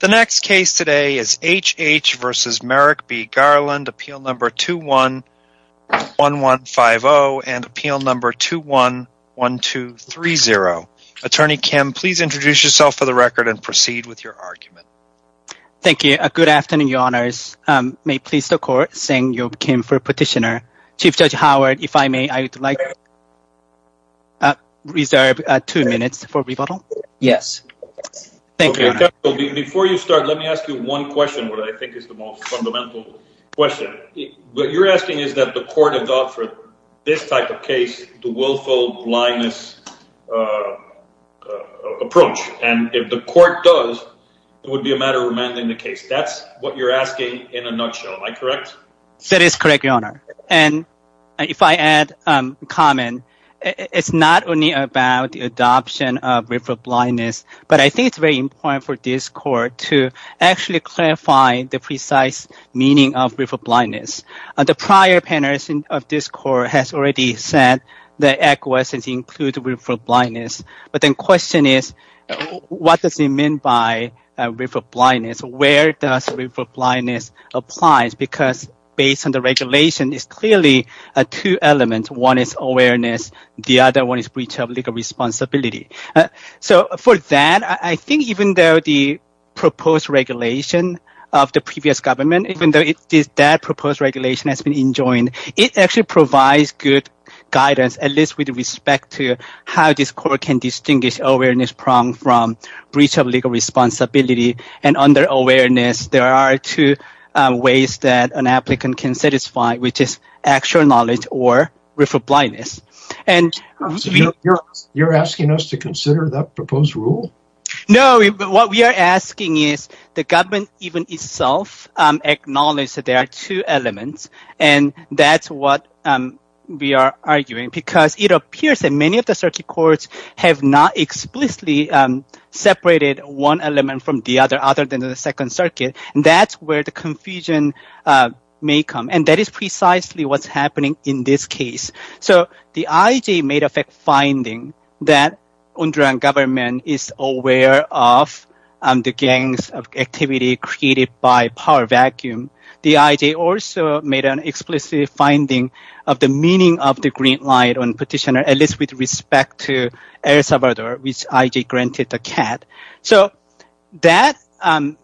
The next case today is H.H. v. Merrick B. Garland, Appeal No. 21-1150 and Appeal No. 21-1230. Attorney Kim, please introduce yourself for the record and proceed with your argument. Thank you. Good afternoon, Your Honors. May it please the Court, Seng Yeob Kim for Petitioner. Chief Judge Howard, if I may, I would like to reserve two minutes for rebuttal. Yes. Thank you, Your Honor. Before you start, let me ask you one question, what I think is the most fundamental question. What you're asking is that the Court adopt for this type of case the willful blindness approach. And if the Court does, it would be a matter of remanding the case. That's what you're asking in a nutshell. Am I correct? That is correct, Your Honor. And if I add a comment, it's not only about the adoption of willful blindness, but I think it's very important for this Court to actually clarify the precise meaning of willful blindness. The prior panelist of this Court has already said that ACWIS includes willful blindness. But then the question is, what does it mean by willful blindness? Where does willful blindness apply? Because based on the regulation, it's clearly two elements. One is awareness. The other one is breach of legal responsibility. So for that, I think even though the proposed regulation of the previous government, even though that proposed regulation has been enjoined, it actually provides good guidance, at least with respect to how this Court can distinguish awareness prong from breach of legal responsibility. And under awareness, there are two ways that an applicant can satisfy, which is actual knowledge or willful blindness. So you're asking us to consider that proposed rule? No, what we are asking is the government even itself acknowledges that there are two elements. And that's what we are arguing because it appears that many of the circuit courts have not explicitly separated one element from the other, other than the Second Circuit. And that's where the confusion may come. And that is precisely what's happening in this case. So the IJ made a fact finding that Underground Government is aware of the gangs of activity created by Power Vacuum. The IJ also made an explicit finding of the meaning of the green light on petitioner, at least with respect to El Salvador, which IJ granted the CAD. So that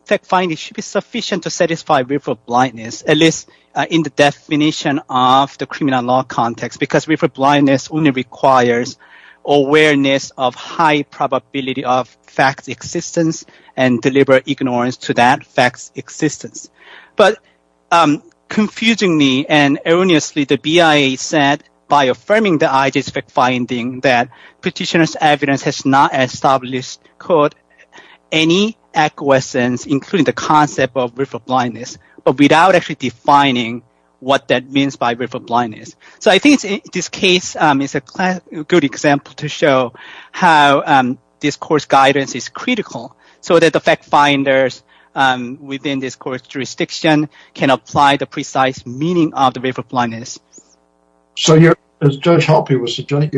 fact finding should be sufficient to satisfy willful blindness, at least in the definition of the criminal law context, because willful blindness only requires awareness of high probability of facts' existence and deliberate ignorance to that fact's existence. But confusingly and erroneously, the BIA said, by affirming the IJ's fact finding, that petitioner's evidence has not established, quote, any acquiescence, including the concept of willful blindness, but without actually defining what that means by willful blindness. So I think this case is a good example to show how this court's guidance is critical so that the fact finders within this court's jurisdiction can apply the precise meaning of the willful blindness. So as Judge Halperin was suggesting,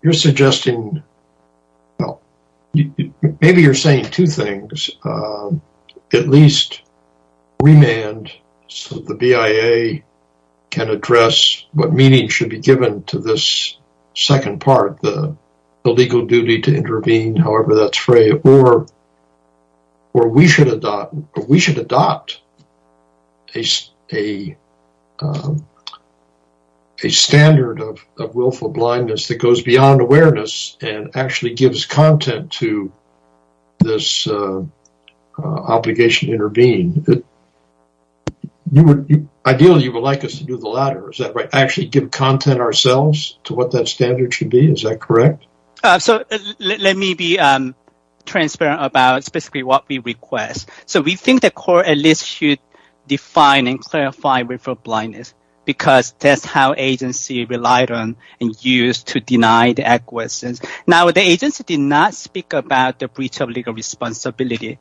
you're suggesting, well, maybe you're saying two things. At least remand so that the BIA can address what meaning should be given to this second part, the legal duty to intervene, however that's framed, or we should adopt a standard of willful blindness that goes beyond awareness and actually gives content to this obligation to intervene. Ideally, you would like us to do the latter. Actually give content ourselves to what that standard should be. Is that correct? So let me be transparent about specifically what we request. So we think the court at least should define and clarify willful blindness because that's how agency relied on and used to deny the acquiescence. Now, the agency did not speak about the breach of legal responsibility,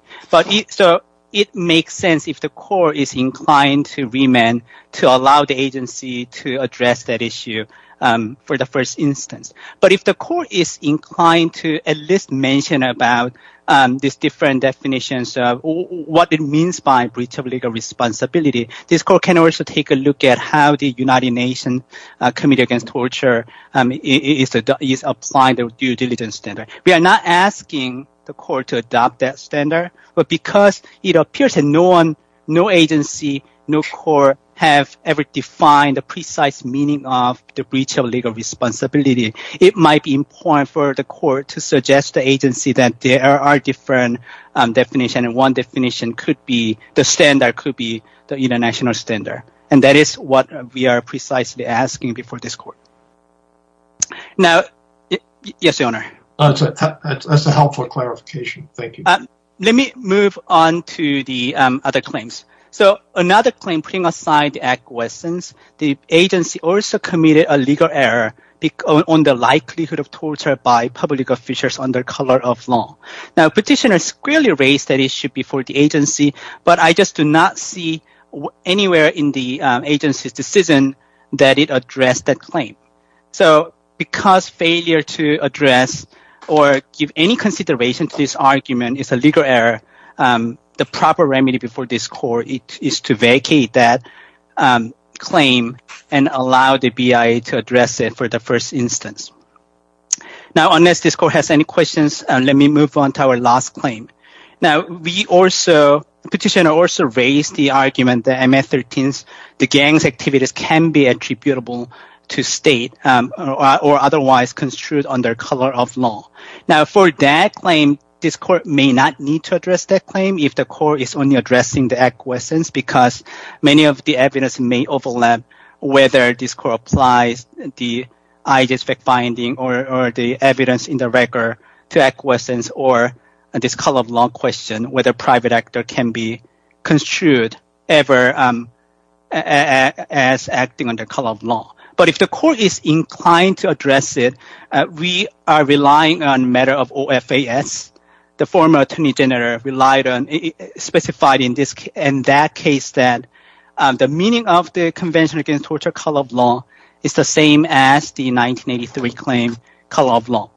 so it makes sense if the court is inclined to remand to allow the agency to address that issue for the first instance. But if the court is inclined to at least mention about these different definitions of what it means by breach of legal responsibility, this court can also take a look at how the United Nations Committee Against Torture is applying the due diligence standard. We are not asking the court to adopt that standard, but because it appears that no agency, no court has ever defined the precise meaning of the breach of legal responsibility, it might be important for the court to suggest to the agency that there are different definitions, and one definition could be the standard could be the international standard, and that is what we are precisely asking before this court. Now, yes, Your Honor. That's a helpful clarification. Thank you. Let me move on to the other claims. So another claim, putting aside the acquiescence, the agency also committed a legal error on the likelihood of torture by public officials under color of law. But I just do not see anywhere in the agency's decision that it addressed that claim. So because failure to address or give any consideration to this argument is a legal error, the proper remedy before this court is to vacate that claim and allow the BIA to address it for the first instance. Now, unless this court has any questions, let me move on to our last claim. Now, the petitioner also raised the argument that MA-13's, the gang's activities can be attributable to state or otherwise construed under color of law. Now, for that claim, this court may not need to address that claim if the court is only addressing the acquiescence because many of the evidence may overlap whether this court applies the IG's fact-finding or the evidence in the record to acquiescence or this color of law question whether private actor can be construed ever as acting under color of law. But if the court is inclined to address it, we are relying on matter of OFAS. The former attorney general specified in that case that the meaning of the Convention Against Torture Color of Law is the same as the 1983 claim color of law.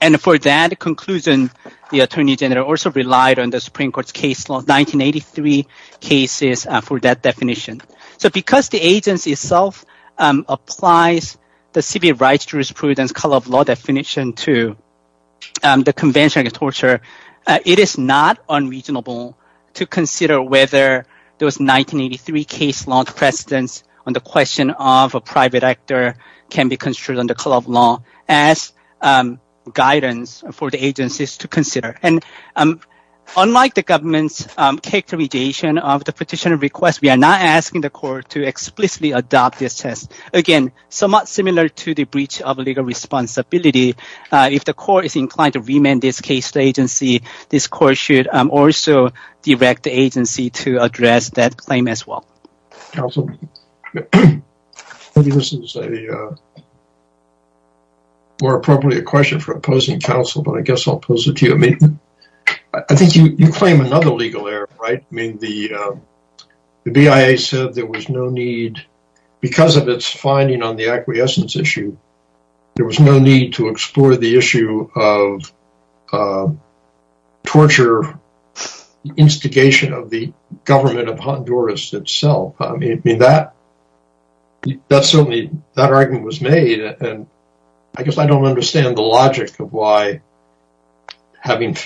And for that conclusion, the attorney general also relied on the Supreme Court's 1983 cases for that definition. So because the agency itself applies the civil rights jurisprudence color of law definition to the Convention Against Torture, it is not unreasonable to consider whether those 1983 case law precedents on the question of a private actor can be construed under color of law as guidance for the agencies to consider. And unlike the government's characterization of the petition request, we are not asking the court to explicitly adopt this test. Again, somewhat similar to the breach of legal responsibility, if the court is inclined to remand this case to agency, this court should also direct the agency to address that claim as well. Counsel, maybe this is a more appropriate question for opposing counsel, but I guess I'll pose it to you. I mean, I think you claim another legal error, right? I mean, the BIA said there was no need, because of its finding on the acquiescence issue, there was no need to explore the issue of torture instigation of the government of Honduras itself. I mean, that argument was made, and I guess I don't understand the logic of why, having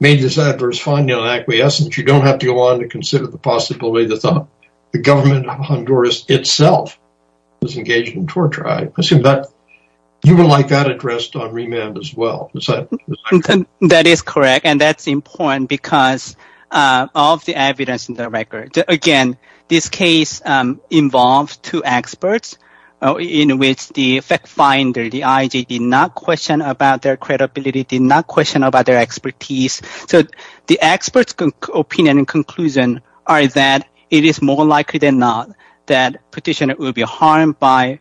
made this adverse finding on acquiescence, you don't have to go on to consider the possibility that the government of Honduras itself was engaged in torture. I assume you would like that addressed on remand as well. That is correct, and that's important because of the evidence in the record. Again, this case involved two experts, in which the fact finder, the IJ, did not question about their credibility, did not question about their expertise. So the experts' opinion and conclusion are that it is more likely than not that petitioner will be harmed by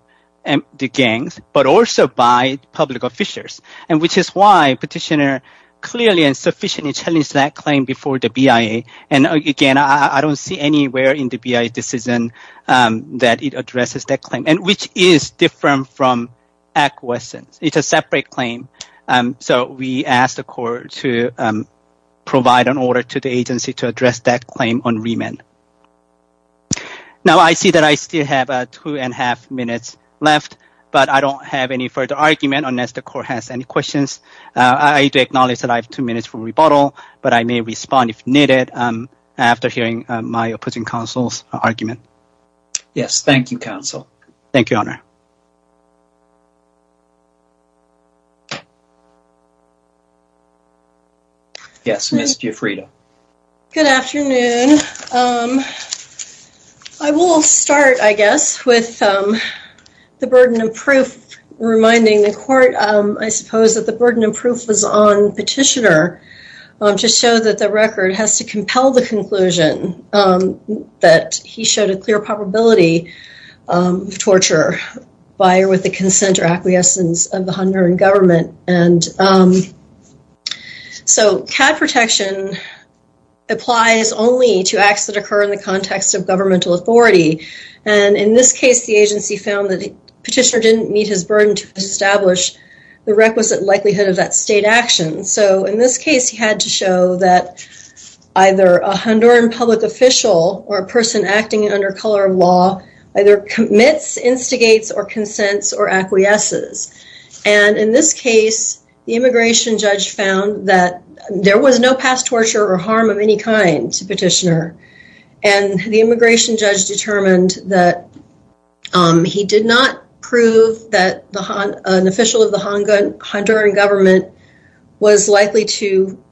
the gangs, but also by public officials, and which is why petitioner clearly and sufficiently challenged that claim before the BIA. And again, I don't see anywhere in the BIA's decision that it addresses that claim, which is different from acquiescence. It's a separate claim, so we asked the court to provide an order to the agency to address that claim on remand. Now, I see that I still have two and a half minutes left, but I don't have any further argument unless the court has any questions. I do acknowledge that I have two minutes for rebuttal, but I may respond if needed after hearing my opposing counsel's argument. Yes, thank you, counsel. Thank you, Honor. Yes, Ms. Giafrida. Good afternoon. I will start, I guess, with the burden of proof, reminding the court, I suppose, that the burden of proof was on petitioner to show that the record has to compel the conclusion that he showed a clear probability of torture by or with the consent or acquiescence of the Honduran government. So, CAD protection applies only to acts that occur in the context of governmental authority. And in this case, the agency found that the petitioner didn't meet his burden to establish the requisite likelihood of that state action. So, in this case, he had to show that either a Honduran public official or a person acting under color of law either commits, instigates, or consents or acquiesces. And in this case, the immigration judge found that there was no past torture or harm of any kind to petitioner. And the immigration judge determined that he did not prove that an official of the Honduran government was likely to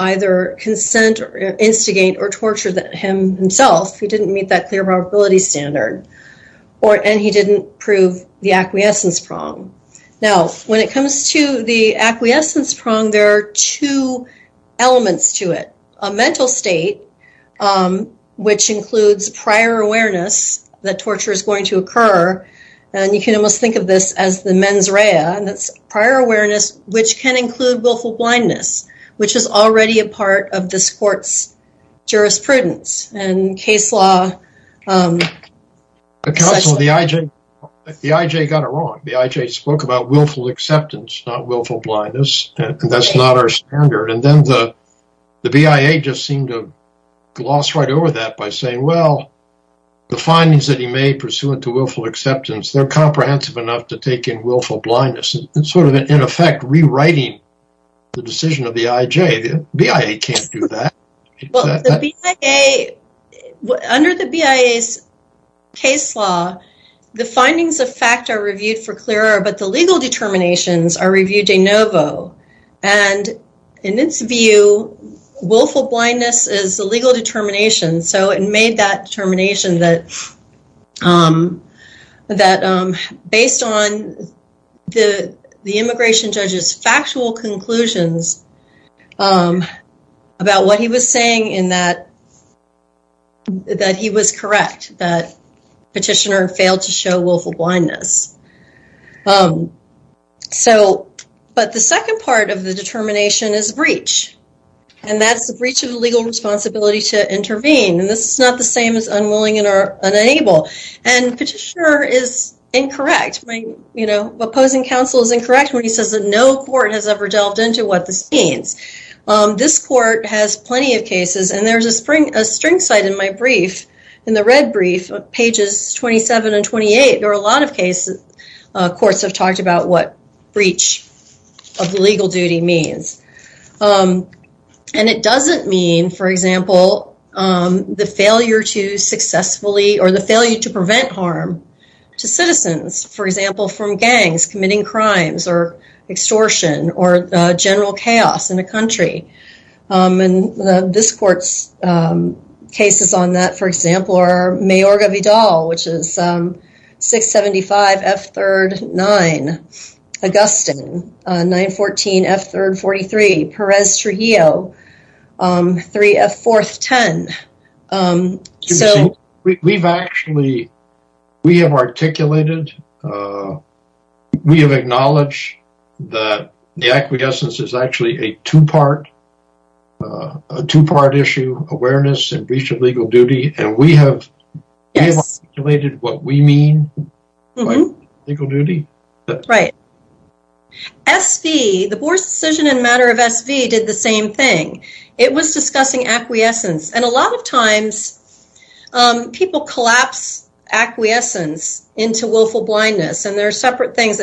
either consent or instigate or torture him himself. He didn't meet that clear probability standard. And he didn't prove the acquiescence prong. Now, when it comes to the acquiescence prong, there are two elements to it. A mental state, which includes prior awareness that torture is going to occur. And you can almost think of this as the mens rea. And that's prior awareness, which can include willful blindness, which is already a part of this court's jurisprudence and case law. The IJ got it wrong. The IJ spoke about willful acceptance, not willful blindness. And that's not our standard. And then the BIA just seemed to gloss right over that by saying, well, the findings that he made pursuant to willful acceptance, they're comprehensive enough to take in willful blindness. It's sort of, in effect, rewriting the decision of the IJ. The BIA can't do that. Well, the BIA, under the BIA's case law, the findings of fact are reviewed for clearer, but the legal determinations are reviewed de novo. And in its view, willful blindness is the legal determination. So it made that determination that based on the immigration judge's factual conclusions about what he was saying and that he was correct, that petitioner failed to show willful blindness. So, but the second part of the determination is breach. And that's the breach of the legal responsibility to intervene. And this is not the same as unwilling or unable. And petitioner is incorrect. My opposing counsel is incorrect when he says that no court has ever delved into what this means. This court has plenty of cases. And there's a string cite in my brief, in the red brief, pages 27 and 28. There are a lot of cases, courts have talked about what breach of legal duty means. And it doesn't mean, for example, the failure to successfully, or the failure to prevent harm to citizens, for example, from gangs, committing crimes, or extortion, or general chaos in a country. And this court's cases on that, for example, are Mayorga Vidal, which is 675 F3rd 9. Augustin, 914 F3rd 43. Perez Trujillo, 3F4th 10. We've actually, we have articulated, we have acknowledged that the acquiescence is actually a two-part, a two-part issue, awareness and breach of legal duty. And we have articulated what we mean by legal duty. Right. SV, the Board's decision in matter of SV did the same thing. It was discussing acquiescence. And a lot of times, people collapse acquiescence into willful blindness. And there are separate things.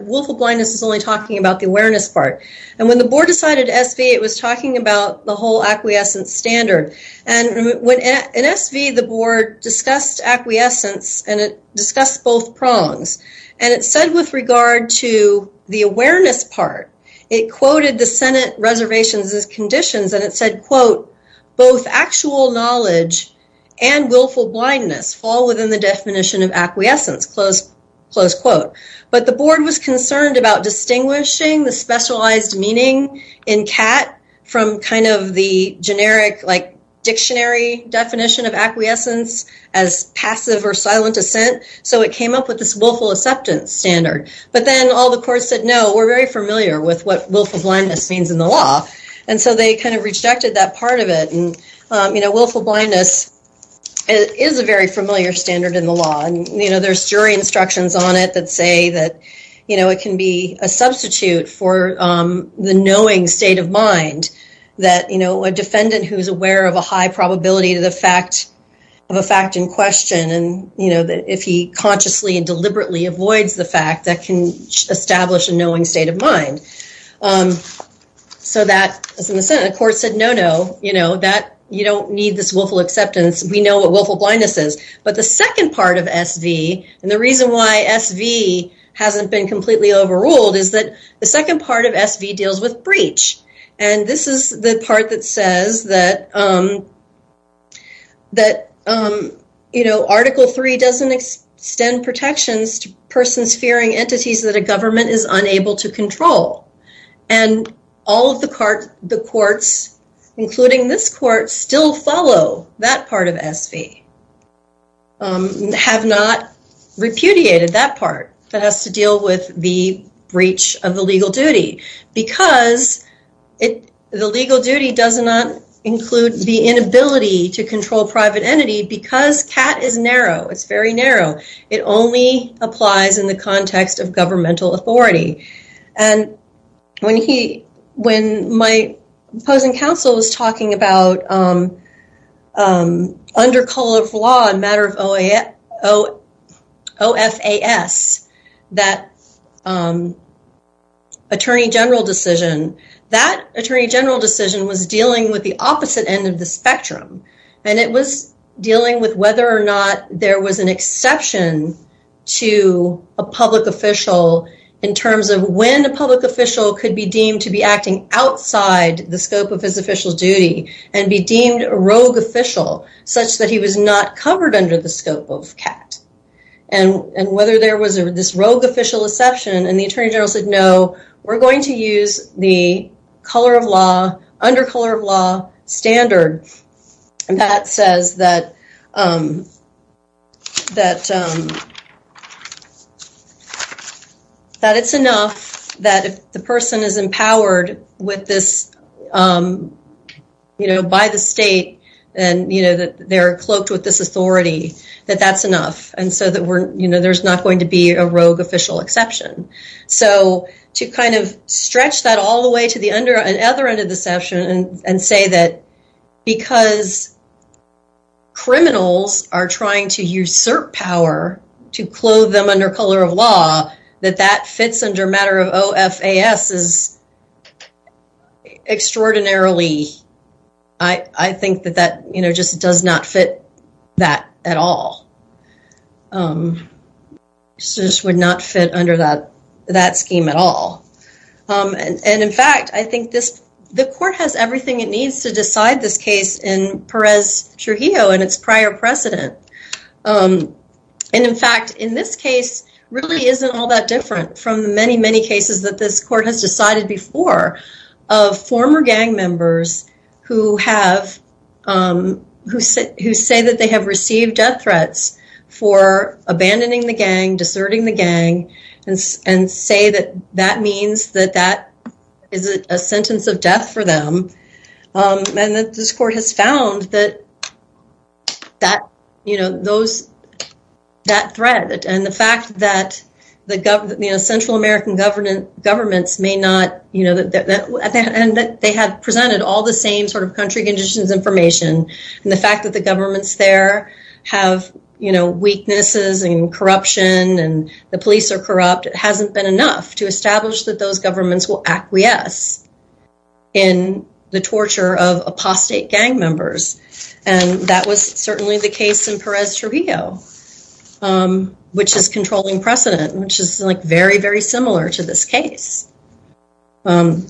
Willful blindness is only talking about the awareness part. And when the Board decided SV, it was talking about the whole acquiescence standard. And in SV, the Board discussed acquiescence, and it discussed both prongs. And it said with regard to the awareness part, it quoted the Senate reservations as conditions. And it said, quote, both actual knowledge and willful blindness fall within the definition of acquiescence, close quote. But the Board was concerned about distinguishing the specialized meaning in CAT from kind of the generic, like, dictionary definition of acquiescence as passive or silent assent. So it came up with this willful acceptance standard. But then all the courts said, no, we're very familiar with what willful blindness means in the law. And so they kind of rejected that part of it. And, you know, willful blindness is a very familiar standard in the law. And, you know, there's jury instructions on it that say that, you know, it can be a substitute for the knowing state of mind that, you know, a defendant who's aware of a high probability of a fact in question, and, you know, if he consciously and deliberately avoids the fact, that can establish a knowing state of mind. So that, as in the Senate, the court said, no, no, you know, you don't need this willful acceptance. We know what willful blindness is. But the second part of SV, and the reason why SV hasn't been completely overruled, is that the second part of SV deals with breach. And this is the part that says that, you know, Article 3 doesn't extend protections to persons fearing entities that a government is unable to control. And all of the courts, including this court, still follow that part of SV, have not repudiated that part that has to deal with the breach of the legal duty. Because the legal duty does not include the inability to control private entity because cat is narrow. It's very narrow. It only applies in the context of governmental authority. And when he, when my opposing counsel was talking about under color of law and matter of OFAS, that attorney general decision, that attorney general decision was dealing with the opposite end of the spectrum. And it was dealing with whether or not there was an exception to a public official in terms of when a public official could be deemed to be acting outside the scope of his official duty and be deemed a rogue official, such that he was not covered under the scope of cat. And whether there was this rogue official exception and the attorney general said, no, we're going to use the color of law, under color of law standard. And that says that, um, that, um, that it's enough that if the person is empowered with this, um, you know, by the state and, you know, that they're cloaked with this authority, that that's enough. And so that we're, you know, there's not going to be a rogue official exception. So to kind of stretch that all the way to the other end of the section and say that because criminals are trying to usurp power to clothe them under color of law, that that fits under matter of OFAS is extraordinarily, I think that that, you know, just does not fit that at all. So this would not fit under that, that scheme at all. And in fact, I think this, the court has everything it needs to decide this case in Perez Trujillo and its prior precedent. And in fact, in this case, really isn't all that different from the many, many cases that this court has decided before of former gang members who have, um, who say that they have received death threats for abandoning the gang, deserting the gang and say that that means that that is a sentence of death for them. And that this court has found that, that, you know, those, that threat and the fact that the government, you know, Central American government governments may not, you know, that they have presented all the same sort of country conditions information. And the fact that the governments there have, you know, weaknesses and corruption and the police are corrupt, it hasn't been enough to establish that those governments will acquiesce in the torture of apostate gang members. And that was certainly the case in Perez Trujillo, which is controlling precedent, which is like very, very similar to this case. And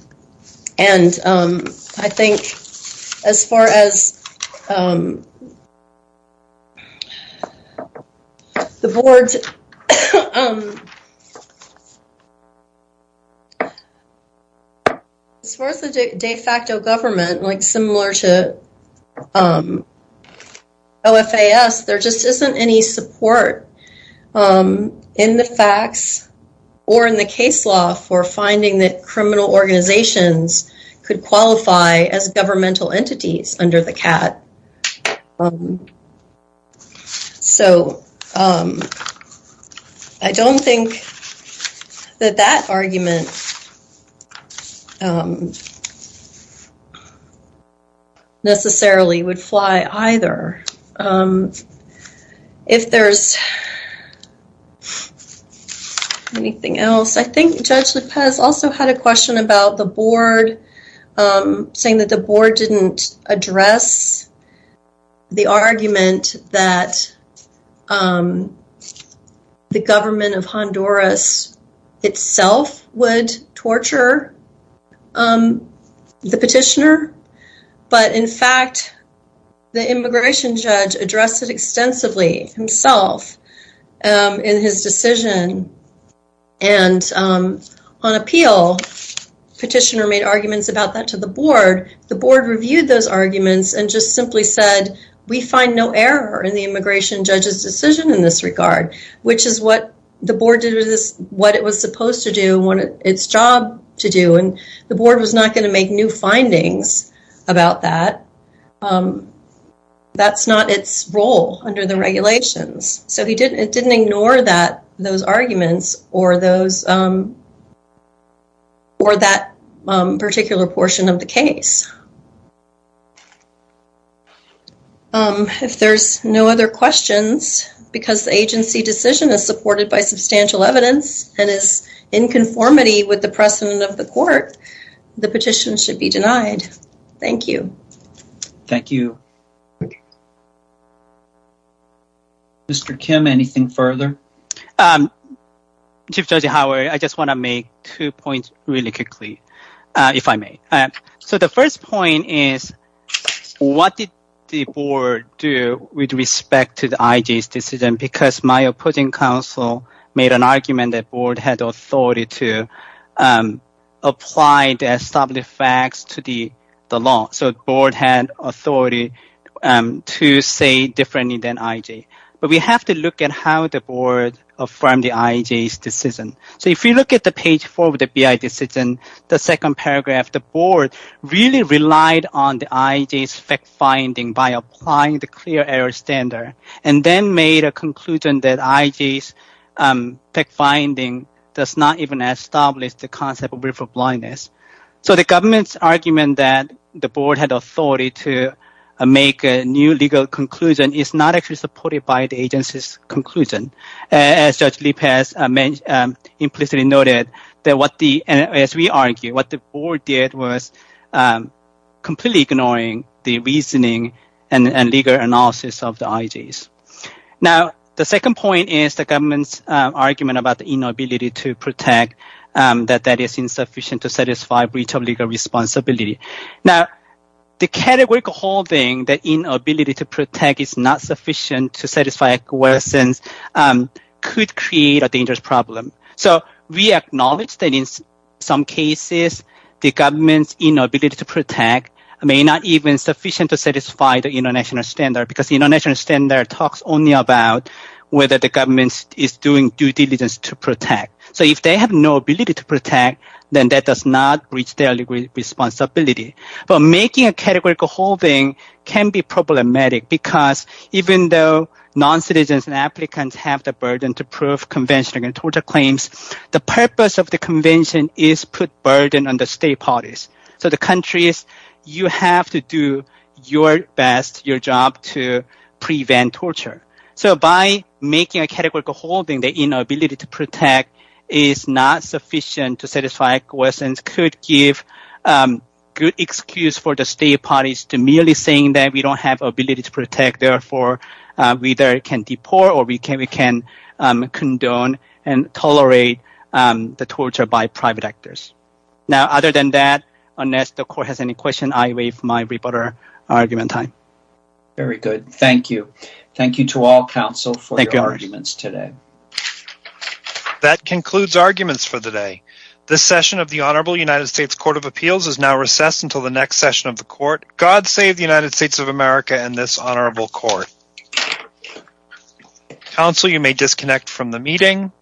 I think as far as the board, as far as the de facto government, like similar to OFAS, there just isn't any support in the facts or in the case law for filing this case. Finding that criminal organizations could qualify as governmental entities under the cat. So, um, I don't think that that argument necessarily would fly either. If there's anything else, I think Judge Lopez also had a question about the board saying that the board didn't address the argument that the government of Honduras itself would torture the petitioner. But in fact, the immigration judge addressed it extensively himself in his decision. And on appeal, petitioner made arguments about that to the board. The board reviewed those arguments and just simply said, we find no error in the immigration judge's decision in this regard, which is what the board did with this, what it was supposed to do, what its job to do. And the board was not going to make new findings about that. That's not its role under the regulations. So he didn't, it didn't ignore that, those arguments or those, or that particular portion of the case. If there's no other questions, because the agency decision is supported by substantial evidence and is in conformity with the precedent of the court, the petition should be denied. Thank you. Thank you. Mr. Kim, anything further? Chief Judge Howard, I just want to make two points really quickly, if I may. So the first point is, what did the board do with respect to the IJ's decision? Because my opposing counsel made an argument that board had authority to apply the established facts to the law. So the board had authority to say differently than IJ. But we have to look at how the board affirmed the IJ's decision. So if you look at the page four of the BI decision, the second paragraph, the board really relied on the IJ's fact-finding by applying the clear error standard and then made a conclusion that IJ's fact-finding does not even establish the concept of willful blindness. So the government's argument that the board had authority to make a new legal conclusion is not actually supported by the agency's conclusion. As Judge Lipp has implicitly noted, as we argued, what the board did was completely ignoring the reasoning and legal analysis of the IJ's. Now, the second point is the government's argument about the inability to protect that that is insufficient to satisfy breach of legal responsibility. Now, the categorical holding that inability to protect is not sufficient to satisfy acquiescence could create a dangerous problem. So we acknowledge that in some cases the government's inability to protect may not even be sufficient to satisfy the international standard because the international standard talks only about whether the government is doing due diligence to protect. So if they have no ability to protect, then that does not reach their legal responsibility. But making a categorical holding can be problematic because even though non-citizens and applicants have the burden to prove convention against torture claims, the purpose of the convention is to put burden on the state parties. So the countries, you have to do your best, your job, to prevent torture. So by making a categorical holding that inability to protect is not sufficient to satisfy acquiescence could give good excuse for the state parties to merely saying that we don't have ability to protect. Therefore, we either can deport or we can condone and tolerate the torture by private actors. Now, other than that, unless the court has any questions, I waive my rebuttal argument time. Very good. Thank you. Thank you to all, counsel, for your arguments today. That concludes arguments for the day. This session of the Honorable United States Court of Appeals is now recessed until the next session of the court. God save the United States of America and this honorable court. Counsel, you may disconnect from the meeting.